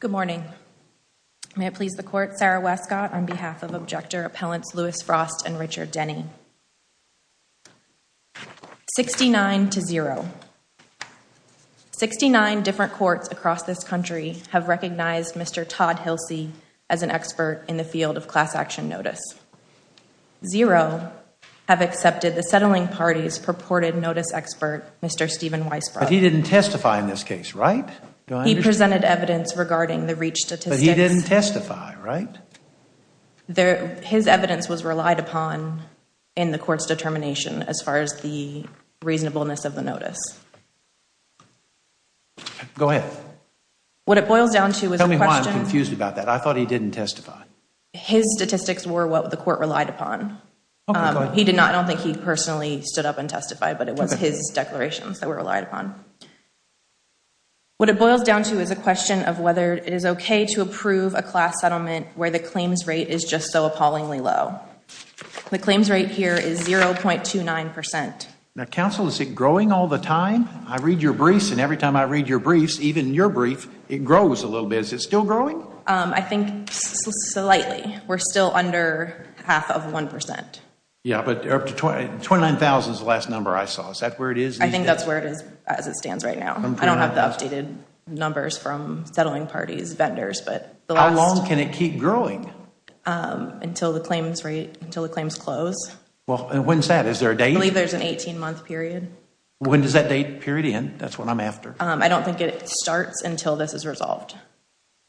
Good morning, may it please the court Sarah Westcott on behalf of objector appellants Lewis Frost and Richard Denny 69 to 0 69 different courts across this country have recognized. Mr. Todd. He'll see as an expert in the field of class action notice 0 Have accepted the settling parties purported notice expert. Mr. Stephen Weisbrod. He didn't testify in this case, right? Presented evidence regarding the reach that he didn't testify, right? There his evidence was relied upon in the court's determination as far as the reasonableness of the notice Go ahead What it boils down to is I'm confused about that. I thought he didn't testify his statistics were what the court relied upon He did not I don't think he personally stood up and testified but it was his declarations that were relied upon What it boils down to is a question of whether it is Okay to approve a class settlement where the claims rate is just so appallingly low The claims rate here is zero point two nine percent now counsel. Is it growing all the time? I read your briefs and every time I read your briefs even your brief it grows a little bit. Is it still growing? I think Slightly we're still under half of one percent. Yeah, but up to 20 29,000 is the last number I saw is that where it is? I think that's where it is as it stands right now I don't have the updated numbers from settling parties vendors, but how long can it keep growing? Until the claims rate until the claims close. Well, when's that? Is there a day? I believe there's an 18 month period When does that date period in that's what I'm after. I don't think it starts until this is resolved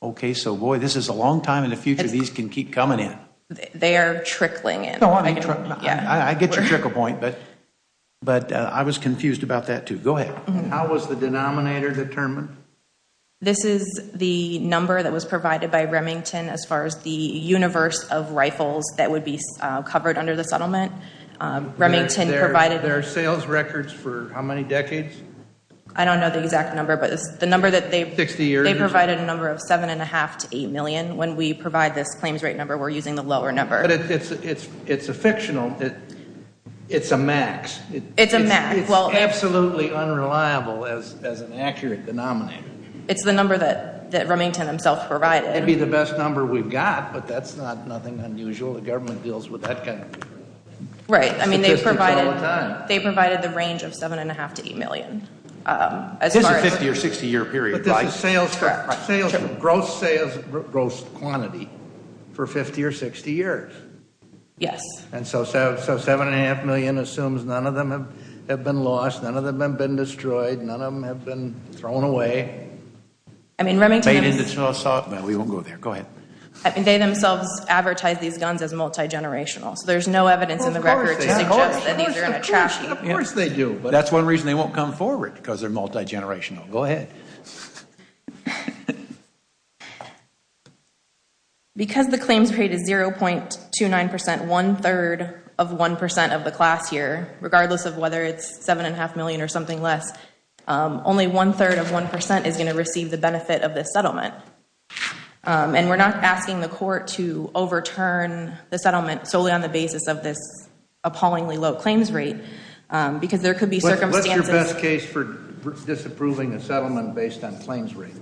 Okay, so boy, this is a long time in the future. These can keep coming in. They are trickling it Yeah, I get your trickle point but but I was confused about that to go ahead This is the number that was provided by Remington as far as the universe of rifles that would be covered under the settlement Remington provided their sales records for how many decades? I don't know the exact number But it's the number that they fix the year they provided a number of seven and a half to eight million when we provide this Number we're using the lower number. It's it's it's a fictional that It's a max. It's a max. Well, absolutely Unreliable as an accurate denominator. It's the number that that Remington himself provided. It'd be the best number we've got but that's not nothing unusual the government deals with that kind of Right. I mean they've provided they provided the range of seven and a half to eight million As a 50 or 60 year period sales track sales gross sales gross quantity for 50 or 60 years Yes, and so so so seven and a half million assumes none of them have been lost None of them have been destroyed. None of them have been thrown away. I Mean Remington is it's not soft, but we won't go there. Go ahead. I mean they themselves advertise these guns as multi-generational So there's no evidence in the record But that's one reason they won't come forward because they're multi-generational go ahead Because The claims rate is zero point two nine percent one-third of one percent of the class year Regardless of whether it's seven and a half million or something less Only one-third of one percent is going to receive the benefit of this settlement And we're not asking the court to overturn the settlement solely on the basis of this appallingly low claims rate Because there could be circumstances best case for disapproving a settlement based on claims rate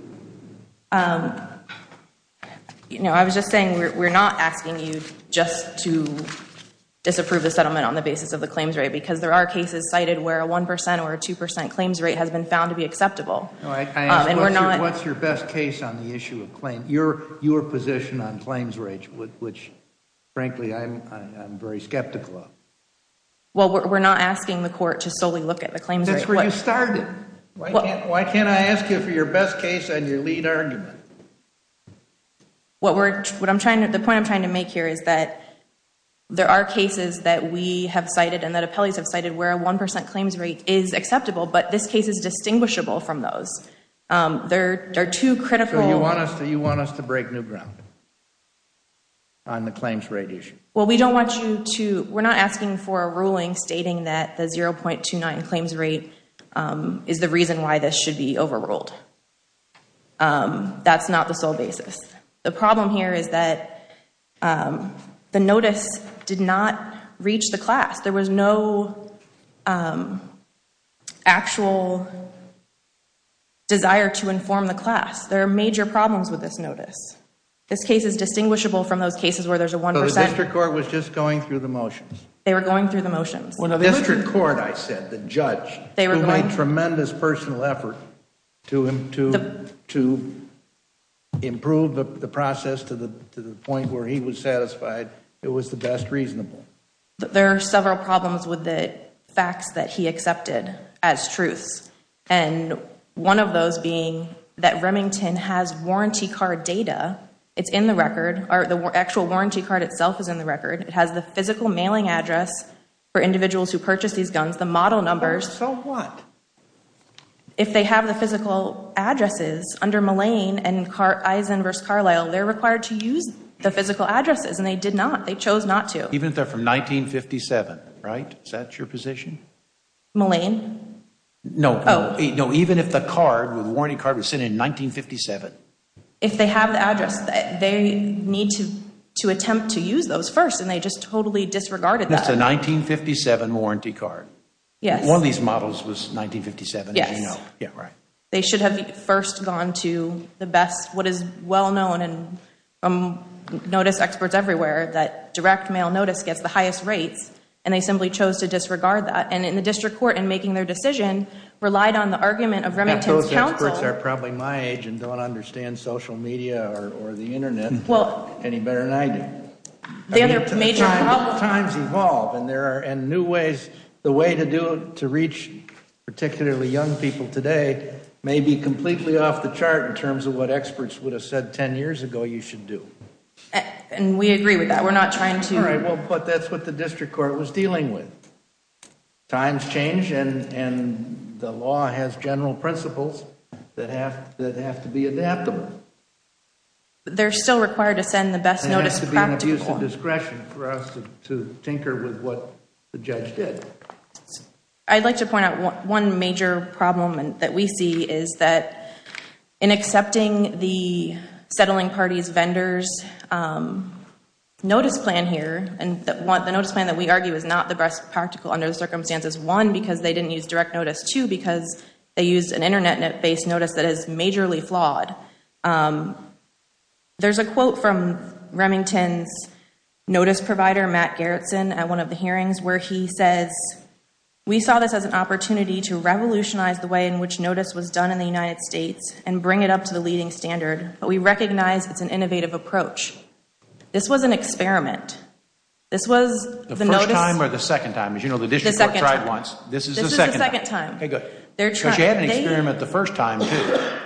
You know, I was just saying we're not asking you just to Disapprove the settlement on the basis of the claims rate because there are cases cited where a 1% or a 2% claims rate has been found To be acceptable. All right, and we're not what's your best case on the issue of claim your your position on claims rage with which Frankly, I'm very skeptical Well, we're not asking the court to solely look at the claims that's where you started Why can't I ask you for your best case and your lead argument? What we're what I'm trying to the point I'm trying to make here is that There are cases that we have cited and that appellees have cited where a 1% claims rate is acceptable But this case is distinguishable from those There are two critical. You want us to you want us to break new ground? On the claims rate issue. Well, we don't want you to we're not asking for a ruling stating that the 0.29 claims rate Is the reason why this should be overruled? That's not the sole basis the problem here is that The notice did not reach the class there was no Actual Desire to inform the class there are major problems with this notice This case is distinguishable from those cases where there's a 1% record was just going through the motions They were going through the motions when a district court. I said the judge they were my tremendous personal effort to him to to Improve the process to the point where he was satisfied. It was the best reasonable There are several problems with the facts that he accepted as truths One of those being that Remington has warranty card data It's in the record or the actual warranty card itself is in the record It has the physical mailing address for individuals who purchase these guns the model numbers. So what? If they have the physical addresses under Malayne and car eyes inverse Carlyle They're required to use the physical addresses and they did not they chose not to even if they're from 1957 right that's your position Malayne No, no, even if the card with warranty card was sent in 1957 if they have the address that they need to to attempt to use those first and they just totally disregarded That's a 1957 warranty card. Yeah, one of these models was 1957 yeah, yeah, right. They should have first gone to the best what is well known and Notice experts everywhere that direct mail notice gets the highest rates and they simply chose to disregard that and in the district court and making their Decision relied on the argument of Remington's counsel. Those experts are probably my age and don't understand social media or the Internet Well any better than I do The other major problems. Times evolve and there are and new ways the way to do it to reach Particularly young people today may be completely off the chart in terms of what experts would have said ten years ago. You should do And we agree with that. We're not trying to. All right. Well, but that's what the district court was dealing with Times change and and the law has general principles that have that have to be adaptable They're still required to send the best notice. It has to be an abuse of discretion for us to tinker with what the judge did I'd like to point out one major problem and that we see is that in accepting the settling parties vendors Notice plan here and that want the notice plan that we argue is not the best practical under the circumstances one because they didn't use direct Notice two because they used an internet net based notice that is majorly flawed There's a quote from Remington's Notice provider Matt Gerritsen at one of the hearings where he says We saw this as an opportunity to Revolutionize the way in which notice was done in the United States and bring it up to the leading standard But we recognize it's an innovative approach This was an experiment This was the notice time or the second time as you know, the district tried once this is the second time Okay, good. They're trying to experiment the first time.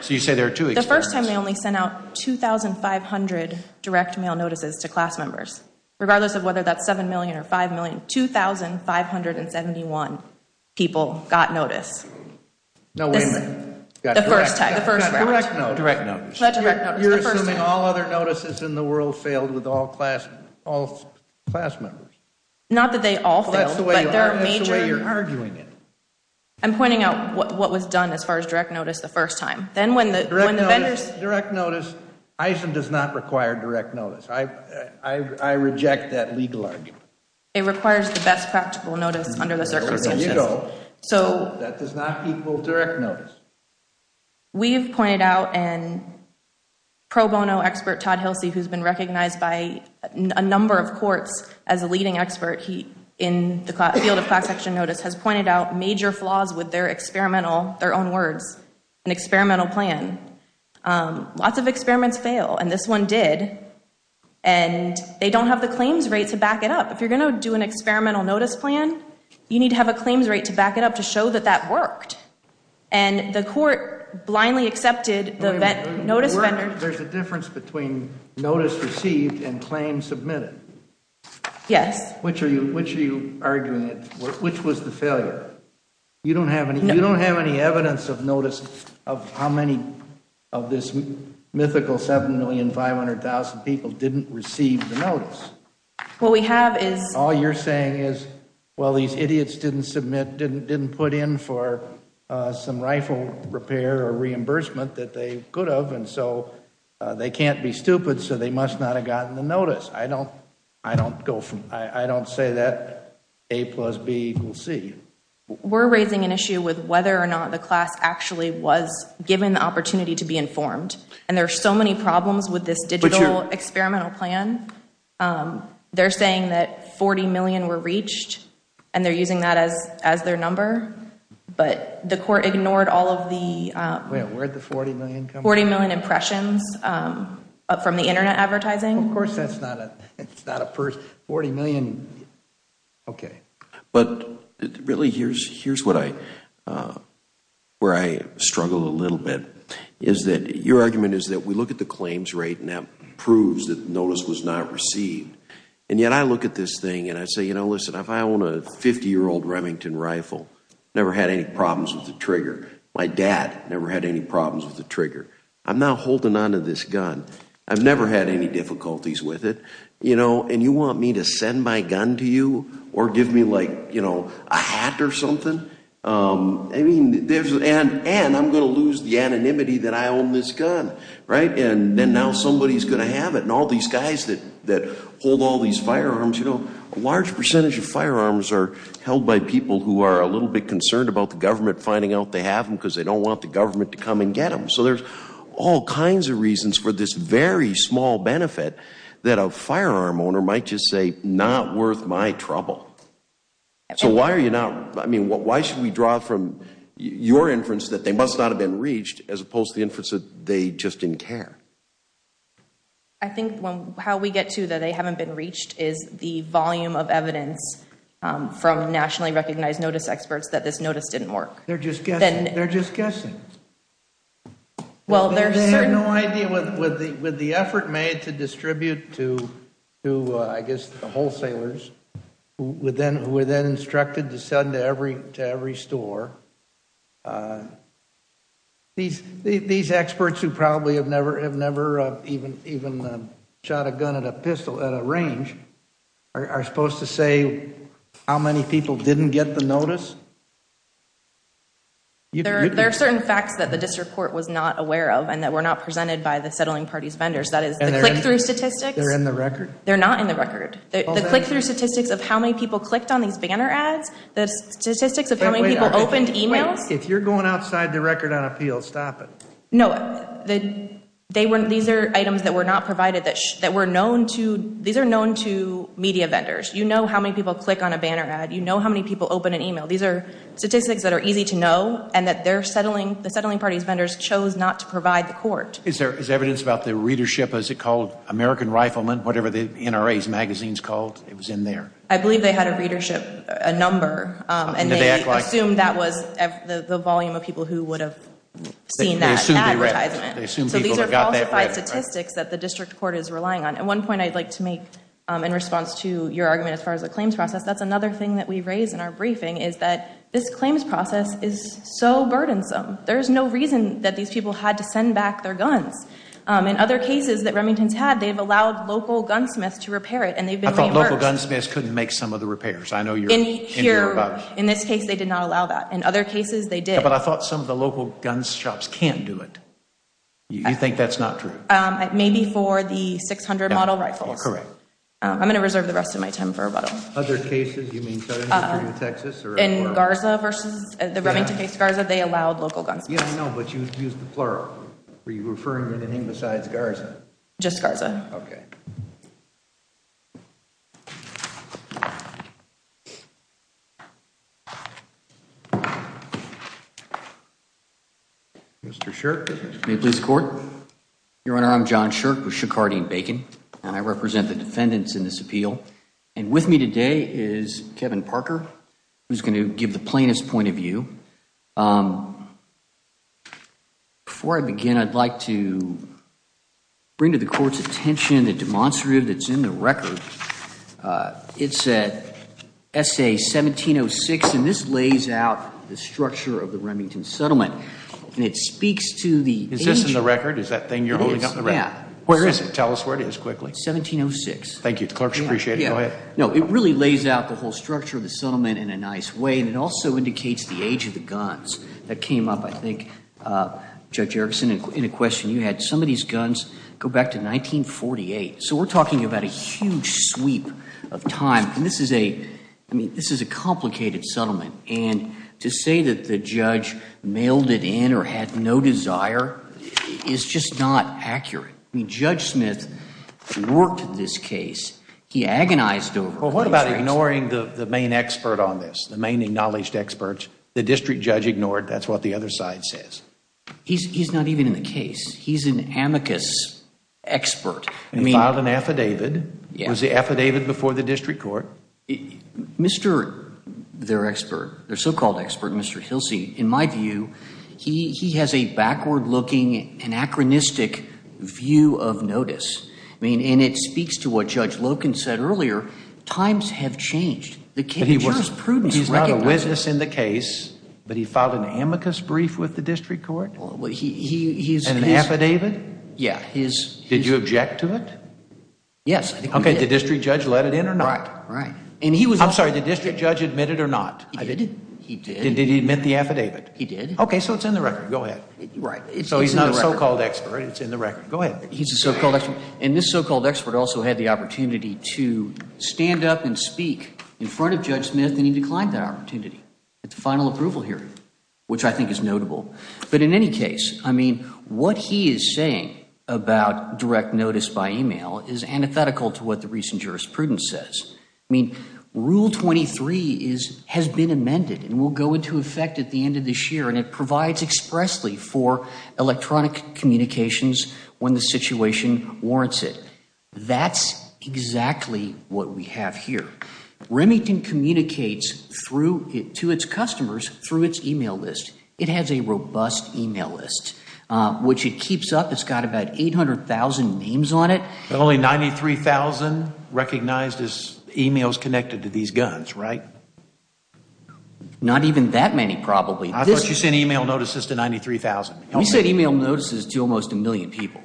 So you say there are two the first time they only sent out 2,500 direct mail notices to class members regardless of whether that's seven million or five million two thousand five hundred and seventy one people got notice No All other notices in the world failed with all class all Class members not that they all that's the way you're arguing it I'm pointing out what was done as far as direct notice the first time then when the vendors direct notice Eisen does not require direct notice. I Reject that legal argument. It requires the best practical notice under the circumstances So that does not equal direct notice we've pointed out and Pro bono expert Todd Hilsey who's been recognized by a number of courts as a leading expert He in the field of class action notice has pointed out major flaws with their experimental their own words an experimental plan lots of experiments fail and this one did and They don't have the claims rate to back it up if you're gonna do an experimental notice plan, you need to have a claims rate to back it up to show that that worked and The court blindly accepted the event notice vendors. There's a difference between notice received and claim submitted Yes, which are you which are you arguing it? Which was the failure? You don't have any you don't have any evidence of notice of how many of this Mythical seven million five hundred thousand people didn't receive the notice What we have is all you're saying is well these idiots didn't submit didn't didn't put in for Some rifle repair or reimbursement that they could have and so They can't be stupid. So they must not have gotten the notice. I don't I don't go from I don't say that A plus B equals C We're raising an issue with whether or not the class actually was given the opportunity to be informed and there are so many problems with this digital experimental plan They're saying that 40 million were reached and they're using that as as their number but the court ignored all of the 40 million impressions From the internet advertising, of course, that's not a it's not a purse 40 million Okay, but really here's here's what I? Where I struggle a little bit is that your argument is that we look at the claims rate and that proves that notice was not Received and yet I look at this thing and I say, you know, listen if I own a 50 year old Remington rifle Never had any problems with the trigger. My dad never had any problems with the trigger. I'm now holding on to this gun I've never had any difficulties with it, you know And you want me to send my gun to you or give me like, you know a hat or something? I mean there's an and I'm gonna lose the anonymity that I own this gun Right and then now somebody's gonna have it and all these guys that that hold all these firearms You know a large percentage of firearms are held by people who are a little bit concerned about the government finding out they have them Because they don't want the government to come and get them So there's all kinds of reasons for this very small benefit that a firearm owner might just say not worth my trouble So, why are you now? I mean what why should we draw from? Your inference that they must not have been reached as opposed to the inference that they just didn't care. I Volume of evidence from nationally recognized notice experts that this notice didn't work. They're just getting they're just guessing Well, there's no idea with the with the effort made to distribute to who I guess the wholesalers Within who were then instructed to send every to every store These these experts who probably have never have never even even shot a gun at a pistol at a range Are supposed to say how many people didn't get the notice? You there are certain facts that the district court was not aware of and that were not presented by the settling parties vendors that is They're going through statistics. They're in the record. They're not in the record They click through statistics of how many people clicked on these banner ads the statistics of how many people opened emails If you're going outside the record on appeal stop it The they weren't these are items that were not provided that that were known to these are known to media vendors You know, how many people click on a banner ad, you know, how many people open an email? These are statistics that are easy to know and that they're settling the settling parties vendors chose not to provide the court Is there is evidence about the readership as it called American riflemen, whatever the NRA's magazines called it was in there I believe they had a readership a number and they assumed that was the volume of people who would have Seen that Statistics that the district court is relying on at one point I'd like to make in response to your argument as far as the claims process That's another thing that we raised in our briefing is that this claims process is so burdensome There's no reason that these people had to send back their guns In other cases that Remington's had they've allowed local gunsmiths to repair it and they've been local gunsmiths couldn't make some of the repairs I know you're here in this case. They did not allow that in other cases They did but I thought some of the local gun shops can't do it You think that's not true. Maybe for the 600 model rifles, correct? I'm gonna reserve the rest of my time for a bottle In Garza versus the Remington case Garza, they allowed local guns. Yeah, I know but you used the plural Were you referring to anything besides Garza just Garza? Okay Mr. Shirk may please the court Your honor. I'm John Shirk with Shikardi and Bacon and I represent the defendants in this appeal and with me today is Kevin Parker Who's going to give the plaintiff's point of view? Before I begin I'd like to Bring to the court's attention the demonstrative that's in the record it said SA 1706 and this lays out the structure of the Remington settlement and it speaks to the is this in the record? Is that thing you're holding up? Yeah, where is it? Tell us where it is quickly. It's 1706. Thank you The clerks appreciate it. Yeah No It really lays out the whole structure of the settlement in a nice way and it also indicates the age of the guns That came up I think Judge Erickson in a question you had some of these guns go back to 1948 so we're talking about a huge sweep of time and this is a I mean This is a complicated settlement and to say that the judge mailed it in or had no desire It's just not accurate. I mean Judge Smith Worked in this case. He agonized over what about ignoring the main expert on this the main acknowledged experts The district judge ignored that's what the other side says He's not even in the case. He's an amicus Expert I mean filed an affidavit. Yeah was the affidavit before the district court Mr. Their expert their so-called expert. Mr. He'll see in my view. He he has a backward-looking anachronistic view of notice I mean and it speaks to what judge Loken said earlier times have changed the Canadians prudence is not a witness in the case, but he filed an amicus brief with the district court. Well, he's an affidavit Yeah, he's did you object to it? Yes, okay. The district judge let it in or not, right? And he was I'm sorry the district judge admitted or not. I didn't he did he admit the affidavit he did Okay, so it's in the record. Go ahead, right? It's so he's not a so-called expert. It's in the record Go ahead He's a so-called expert and this so-called expert also had the opportunity to Stand up and speak in front of Judge Smith and he declined that opportunity at the final approval hearing Which I think is notable, but in any case I mean what he is saying about direct notice by email is antithetical to what the recent jurisprudence says I mean rule 23 is has been amended and will go into effect at the end of this year and it provides expressly for electronic communications when the situation warrants it that's Exactly what we have here Remington communicates through it to its customers through its email list. It has a robust email list Which it keeps up. It's got about 800,000 names on it only 93,000 recognized as emails connected to these guns, right? Not even that many probably I thought you sent email notices to 93,000 He said email notices to almost a million people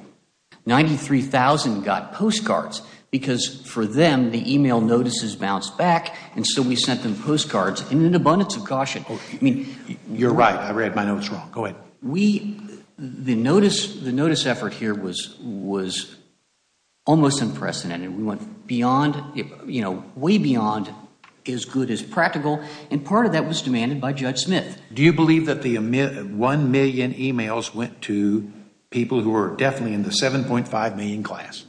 93,000 got postcards because for them the email notices bounced back and so we sent them postcards in an abundance of caution I mean, you're right. I read my notes wrong. Go ahead. We the notice the notice effort here was was Almost unprecedented we went beyond it You know way beyond as good as practical and part of that was demanded by Judge Smith Do you believe that the emit 1 million emails went to people who are definitely in the 7.5 million class?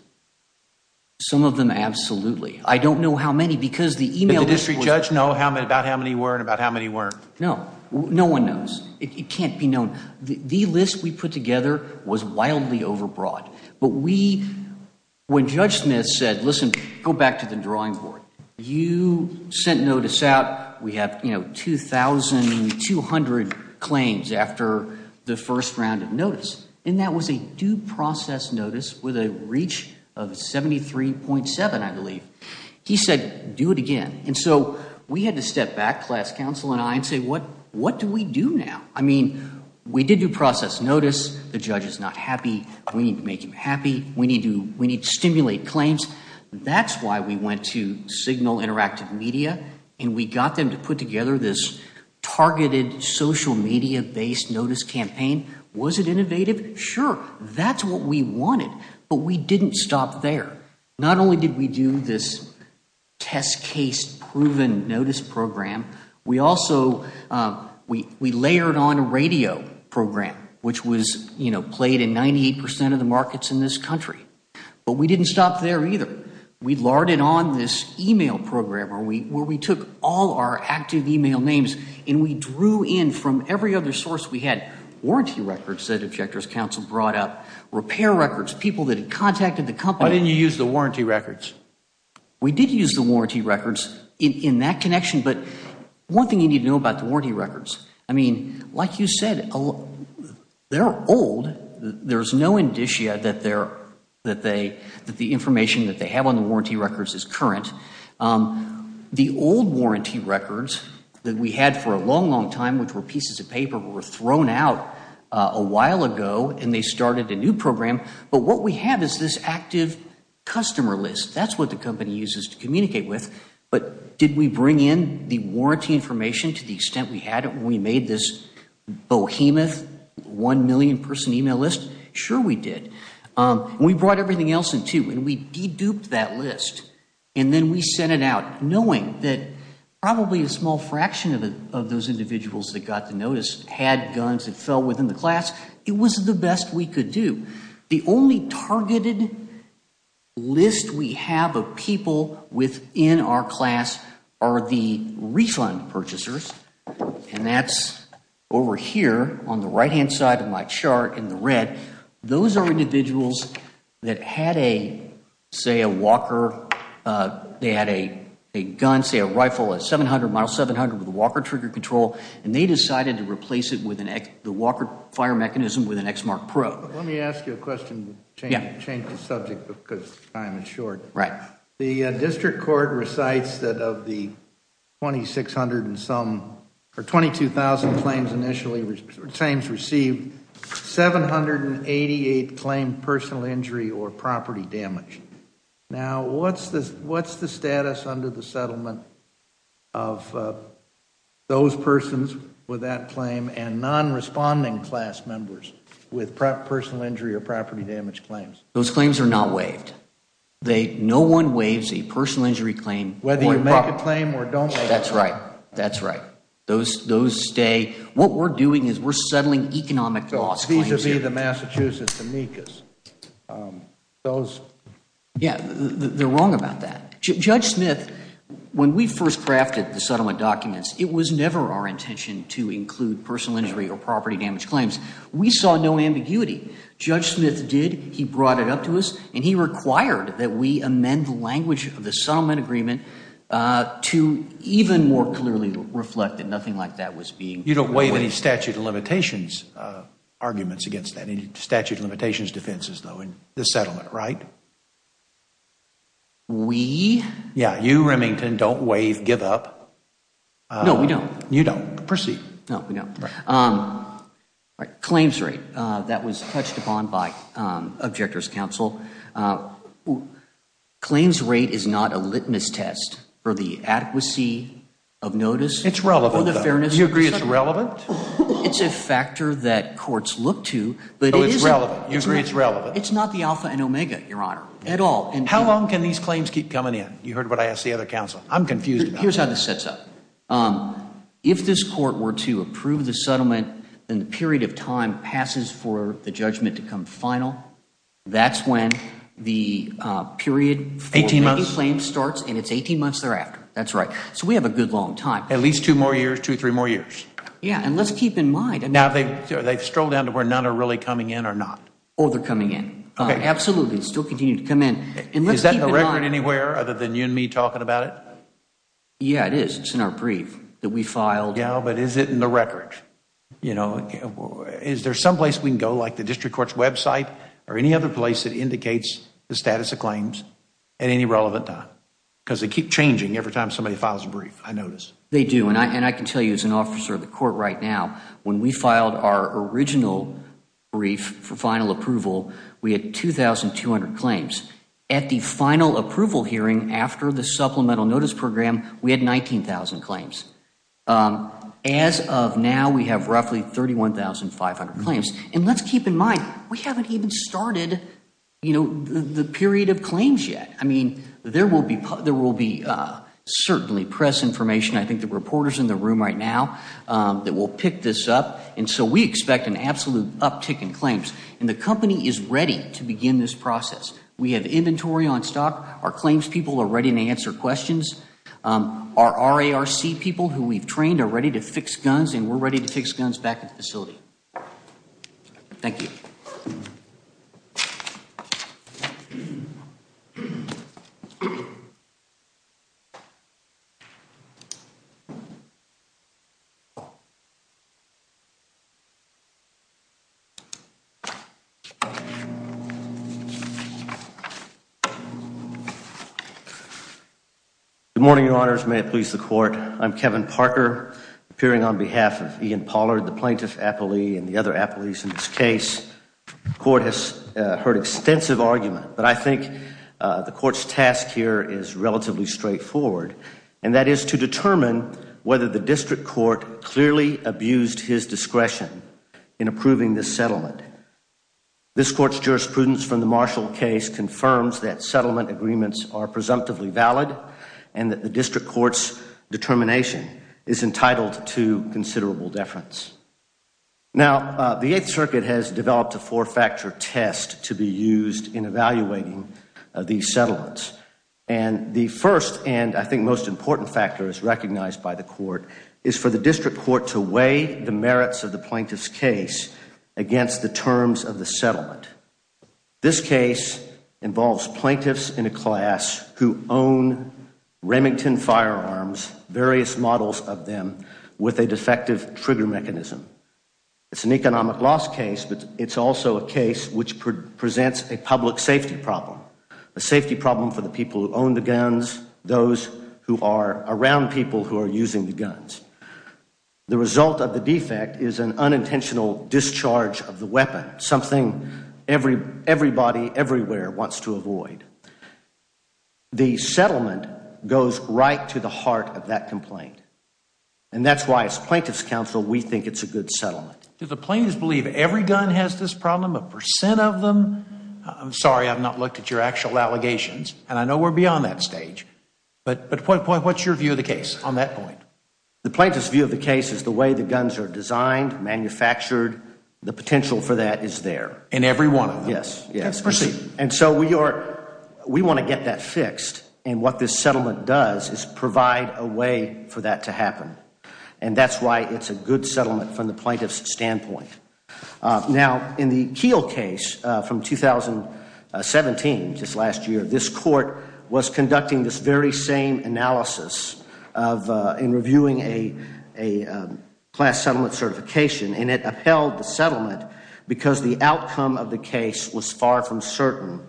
Some of them absolutely I don't know how many because the email district judge know how many about how many were and about how many weren't no No one knows it can't be known the list we put together was wildly overbroad, but we When judge Smith said listen go back to the drawing board you sent notice out we have you know 2,200 claims after the first round of notice and that was a due process notice with a reach of 73.7 I believe he said do it again And so we had to step back class counsel and I and say what what do we do now? I mean, we did do process notice. The judge is not happy. We need to make him happy We need to we need to stimulate claims That's why we went to signal interactive media and we got them to put together this Targeted social media based notice campaign was it innovative? Sure. That's what we wanted But we didn't stop there. Not only did we do this Test case proven notice program. We also We we layered on a radio program, which was you know played in 98% of the markets in this country But we didn't stop there either We'd larded on this email program or we where we took all our active email names and we drew in from every other source We had warranty records that objectors counsel brought up repair records people that had contacted the company Didn't you use the warranty records? We did use the warranty records in that connection. But one thing you need to know about the warranty records. I mean like you said They're old There's no indicia that they're that they that the information that they have on the warranty records is current The old warranty records that we had for a long long time, which were pieces of paper were thrown out a while ago And they started a new program. But what we have is this active Customer list. That's what the company uses to communicate with but did we bring in the warranty information to the extent we had it? We made this Bohemoth 1 million person email list. Sure. We did we brought everything else in too and we de-duped that list and then we sent it out knowing that Probably a small fraction of those individuals that got the notice had guns that fell within the class It was the best we could do the only targeted List we have of people within our class are the refund purchasers and that's Over here on the right hand side of my chart in the red. Those are individuals that had a say a Walker They had a gun say a rifle at 700 mile 700 with a Walker trigger control And they decided to replace it with an X the Walker fire mechanism with an X mark Pro Let me ask you a question. Yeah change the subject because I'm insured right the district court recites that of the 2600 and some for 22,000 claims initially retains received 788 claimed personal injury or property damage now, what's this? What's the status under the settlement of? Those persons with that claim and non-responding class members with personal injury or property damage claims Those claims are not waived They no one waives a personal injury claim whether you make a claim or don't say that's right That's right. Those those stay what we're doing is we're settling economic loss. These are the Massachusetts amicus those Yeah, they're wrong about that judge Smith When we first crafted the settlement documents, it was never our intention to include personal injury or property damage claims We saw no ambiguity judge Smith did he brought it up to us and he required that we amend the language of the settlement agreement To even more clearly reflect that nothing like that was being you don't waive any statute of limitations Arguments against that any statute of limitations defenses though in the settlement, right? We yeah you Remington don't waive give up no, we don't you don't proceed. No, we don't Claims rate that was touched upon by objectors counsel Claims rate is not a litmus test for the adequacy of notice. It's relevant for the fairness. You agree. It's relevant It's a factor that courts look to but it is relevant. You agree. It's relevant It's not the Alpha and Omega your honor at all. And how long can these claims keep coming in? You heard what I asked the other counsel. I'm confused. Here's how this sets up If this court were to approve the settlement then the period of time passes for the judgment to come final that's when the Period 18 months claim starts and it's 18 months thereafter. That's right So we have a good long time at least two more years two three more years Yeah, and let's keep in mind and now they they've strolled down to where none are really coming in or not They're coming in. Absolutely still continue to come in. Is that a record anywhere other than you and me talking about it? Yeah, it is. It's in our brief that we filed. Yeah, but is it in the record, you know? Is there someplace we can go like the district courts website or any other place that indicates the status of claims at any relevant time? Because they keep changing every time somebody files a brief I notice they do and I and I can tell you as an officer of the court right now when we filed our original Brief for final approval. We had 2,200 claims at the final approval hearing after the supplemental notice program. We had 19,000 claims As of now we have roughly thirty one thousand five hundred claims and let's keep in mind. We haven't even started You know the period of claims yet. I mean there will be put there will be Certainly press information. I think the reporters in the room right now That will pick this up and so we expect an absolute uptick in claims and the company is ready to begin this process We have inventory on stock. Our claims people are ready to answer questions Our RARC people who we've trained are ready to fix guns and we're ready to fix guns back at the facility Thank you You Good morning, your honors may it please the court I'm Kevin Parker appearing on behalf of Ian Pollard the plaintiff appellee and the other appellees in this case Court has heard extensive argument, but I think The court's task here is relatively straightforward and that is to determine whether the district court Clearly abused his discretion in approving this settlement This court's jurisprudence from the Marshall case confirms that settlement agreements are presumptively valid and that the district courts Determination is entitled to considerable deference Now the 8th Circuit has developed a four-factor test to be used in evaluating these settlements and The first and I think most important factor is recognized by the court is for the district court to weigh the merits of the plaintiff's case against the terms of the settlement this case involves plaintiffs in a class who own Remington firearms various models of them with a defective trigger mechanism It's an economic loss case But it's also a case which presents a public safety problem a safety problem for the people who own the guns Those who are around people who are using the guns The result of the defect is an unintentional discharge of the weapon something Every everybody everywhere wants to avoid The settlement goes right to the heart of that complaint and That's why it's plaintiffs counsel. We think it's a good settlement Do the plaintiffs believe every gun has this problem a percent of them? I'm sorry I've not looked at your actual allegations, and I know we're beyond that stage, but but point point What's your view of the case on that point the plaintiffs view of the case is the way the guns are designed manufactured? The potential for that is there and everyone yes, yes proceed and so we are We want to get that fixed and what this settlement does is provide a way for that to happen And that's why it's a good settlement from the plaintiffs standpoint now in the keel case from 2017 just last year this court was conducting this very same analysis of in reviewing a a Settlement because the outcome of the case was far from certain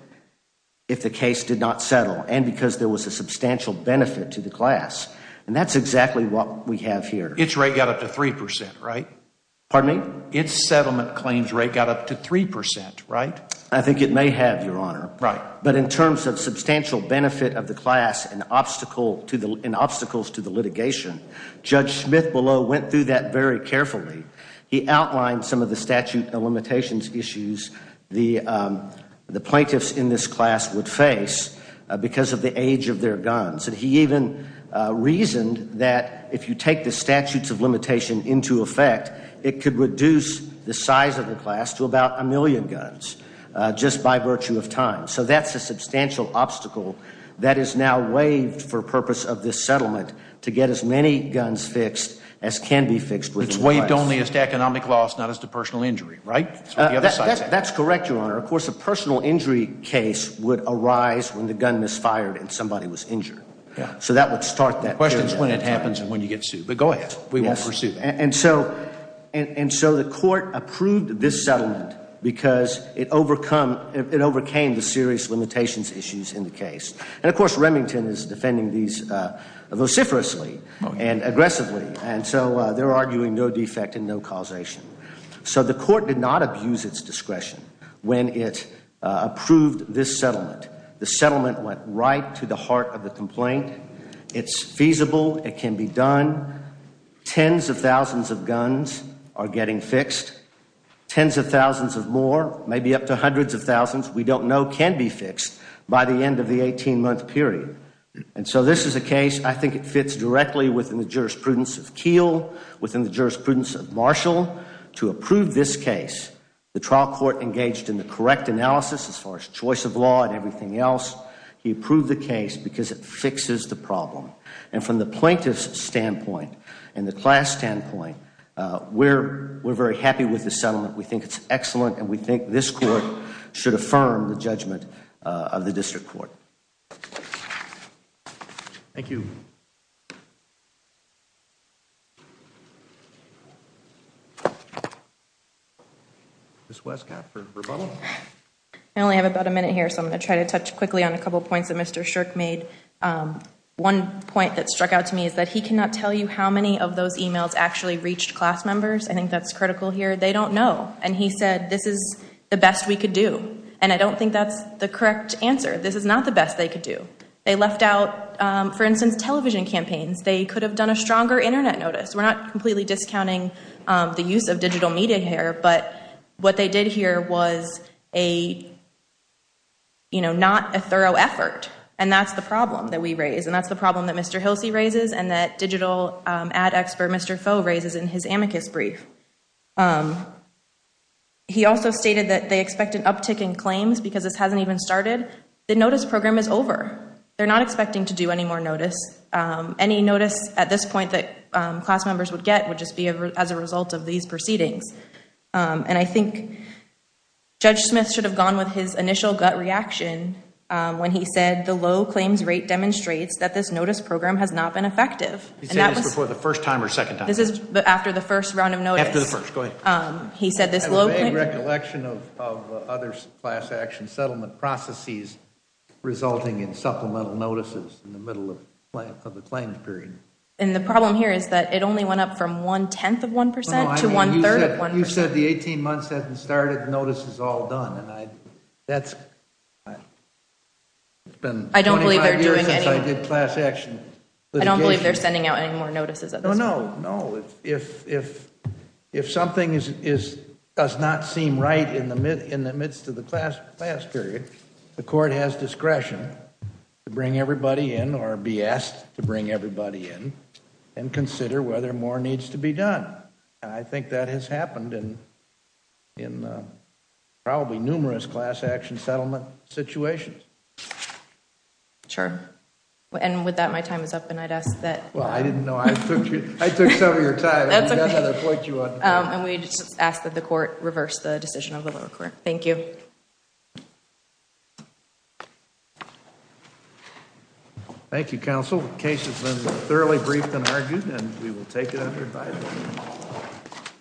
If the case did not settle and because there was a substantial benefit to the class and that's exactly what we have here It's right got up to 3% right pardon me. It's settlement claims rate got up to 3% right I think it may have your honor right but in terms of substantial benefit of the class an obstacle to the obstacles to the litigation Judge Smith below went through that very carefully he outlined some of the statute of limitations issues the the plaintiffs in this class would face because of the age of their guns and he even Reasoned that if you take the statutes of limitation into effect It could reduce the size of the class to about a million guns Just by virtue of time so that's a substantial obstacle That is now waived for purpose of this settlement to get as many guns fixed as can be fixed with weight only as to economic Loss not as to personal injury, right? That's correct your honor of course a personal injury case would arise when the gun misfired and somebody was injured Yeah So that would start that questions when it happens and when you get sued but go ahead We won't pursue and so and so the court approved this settlement Because it overcome it overcame the serious limitations issues in the case and of course Remington is defending these vociferously and Aggressively and so they're arguing no defect and no causation so the court did not abuse its discretion when it Approved this settlement the settlement went right to the heart of the complaint. It's feasible. It can be done Tens of thousands of guns are getting fixed Tens of thousands of more maybe up to hundreds of thousands We don't know can be fixed by the end of the 18 month period and so this is a case I think it fits directly within the jurisprudence of keel within the jurisprudence of Marshall to approve this case The trial court engaged in the correct analysis as far as choice of law and everything else He approved the case because it fixes the problem and from the plaintiffs standpoint and the class standpoint We're we're very happy with the settlement we think it's excellent, and we think this court should affirm the judgment of the district court Thank you This was I only have about a minute here, so I'm going to try to touch quickly on a couple points that mr. Shirk made One point that struck out to me is that he cannot tell you how many of those emails actually reached class members I think that's critical here They don't know and he said this is the best we could do and I don't think that's the correct answer This is not the best they could do they left out for instance television campaigns. They could have done a stronger internet notice we're not completely discounting the use of digital media here, but what they did here was a You know not a thorough effort and that's the problem that we raise and that's the problem that mr. Hilsey raises and that digital ad expert mr. Foe raises in his amicus brief He also stated that they expect an uptick in claims because this hasn't even started the notice program is over They're not expecting to do any more notice Any notice at this point that class members would get would just be as a result of these proceedings and I think Judge Smith should have gone with his initial gut reaction When he said the low claims rate demonstrates that this notice program has not been effective He said it's before the first time or second time. This is after the first round of note after the first go ahead He said this low Action settlement processes resulting in supplemental notices in the middle of The claims period and the problem here is that it only went up from one tenth of 1% to one third You said the 18 months hasn't started notice is all done, and I that's It's been I don't believe they're doing any good class action, but I don't believe they're sending out any more notices Oh, no, no if If something is is does not seem right in the mid in the midst of the class class period the court has discretion to bring everybody in or be asked to bring everybody in and I think that has happened and in probably numerous class action settlement situations Sure, and with that my time is up, and I'd ask that well. I didn't know I took you I took some of your time And we just asked that the court reverse the decision of the lower court. Thank you Thank You counsel case has been thoroughly briefed and argued and we will take it under circumstance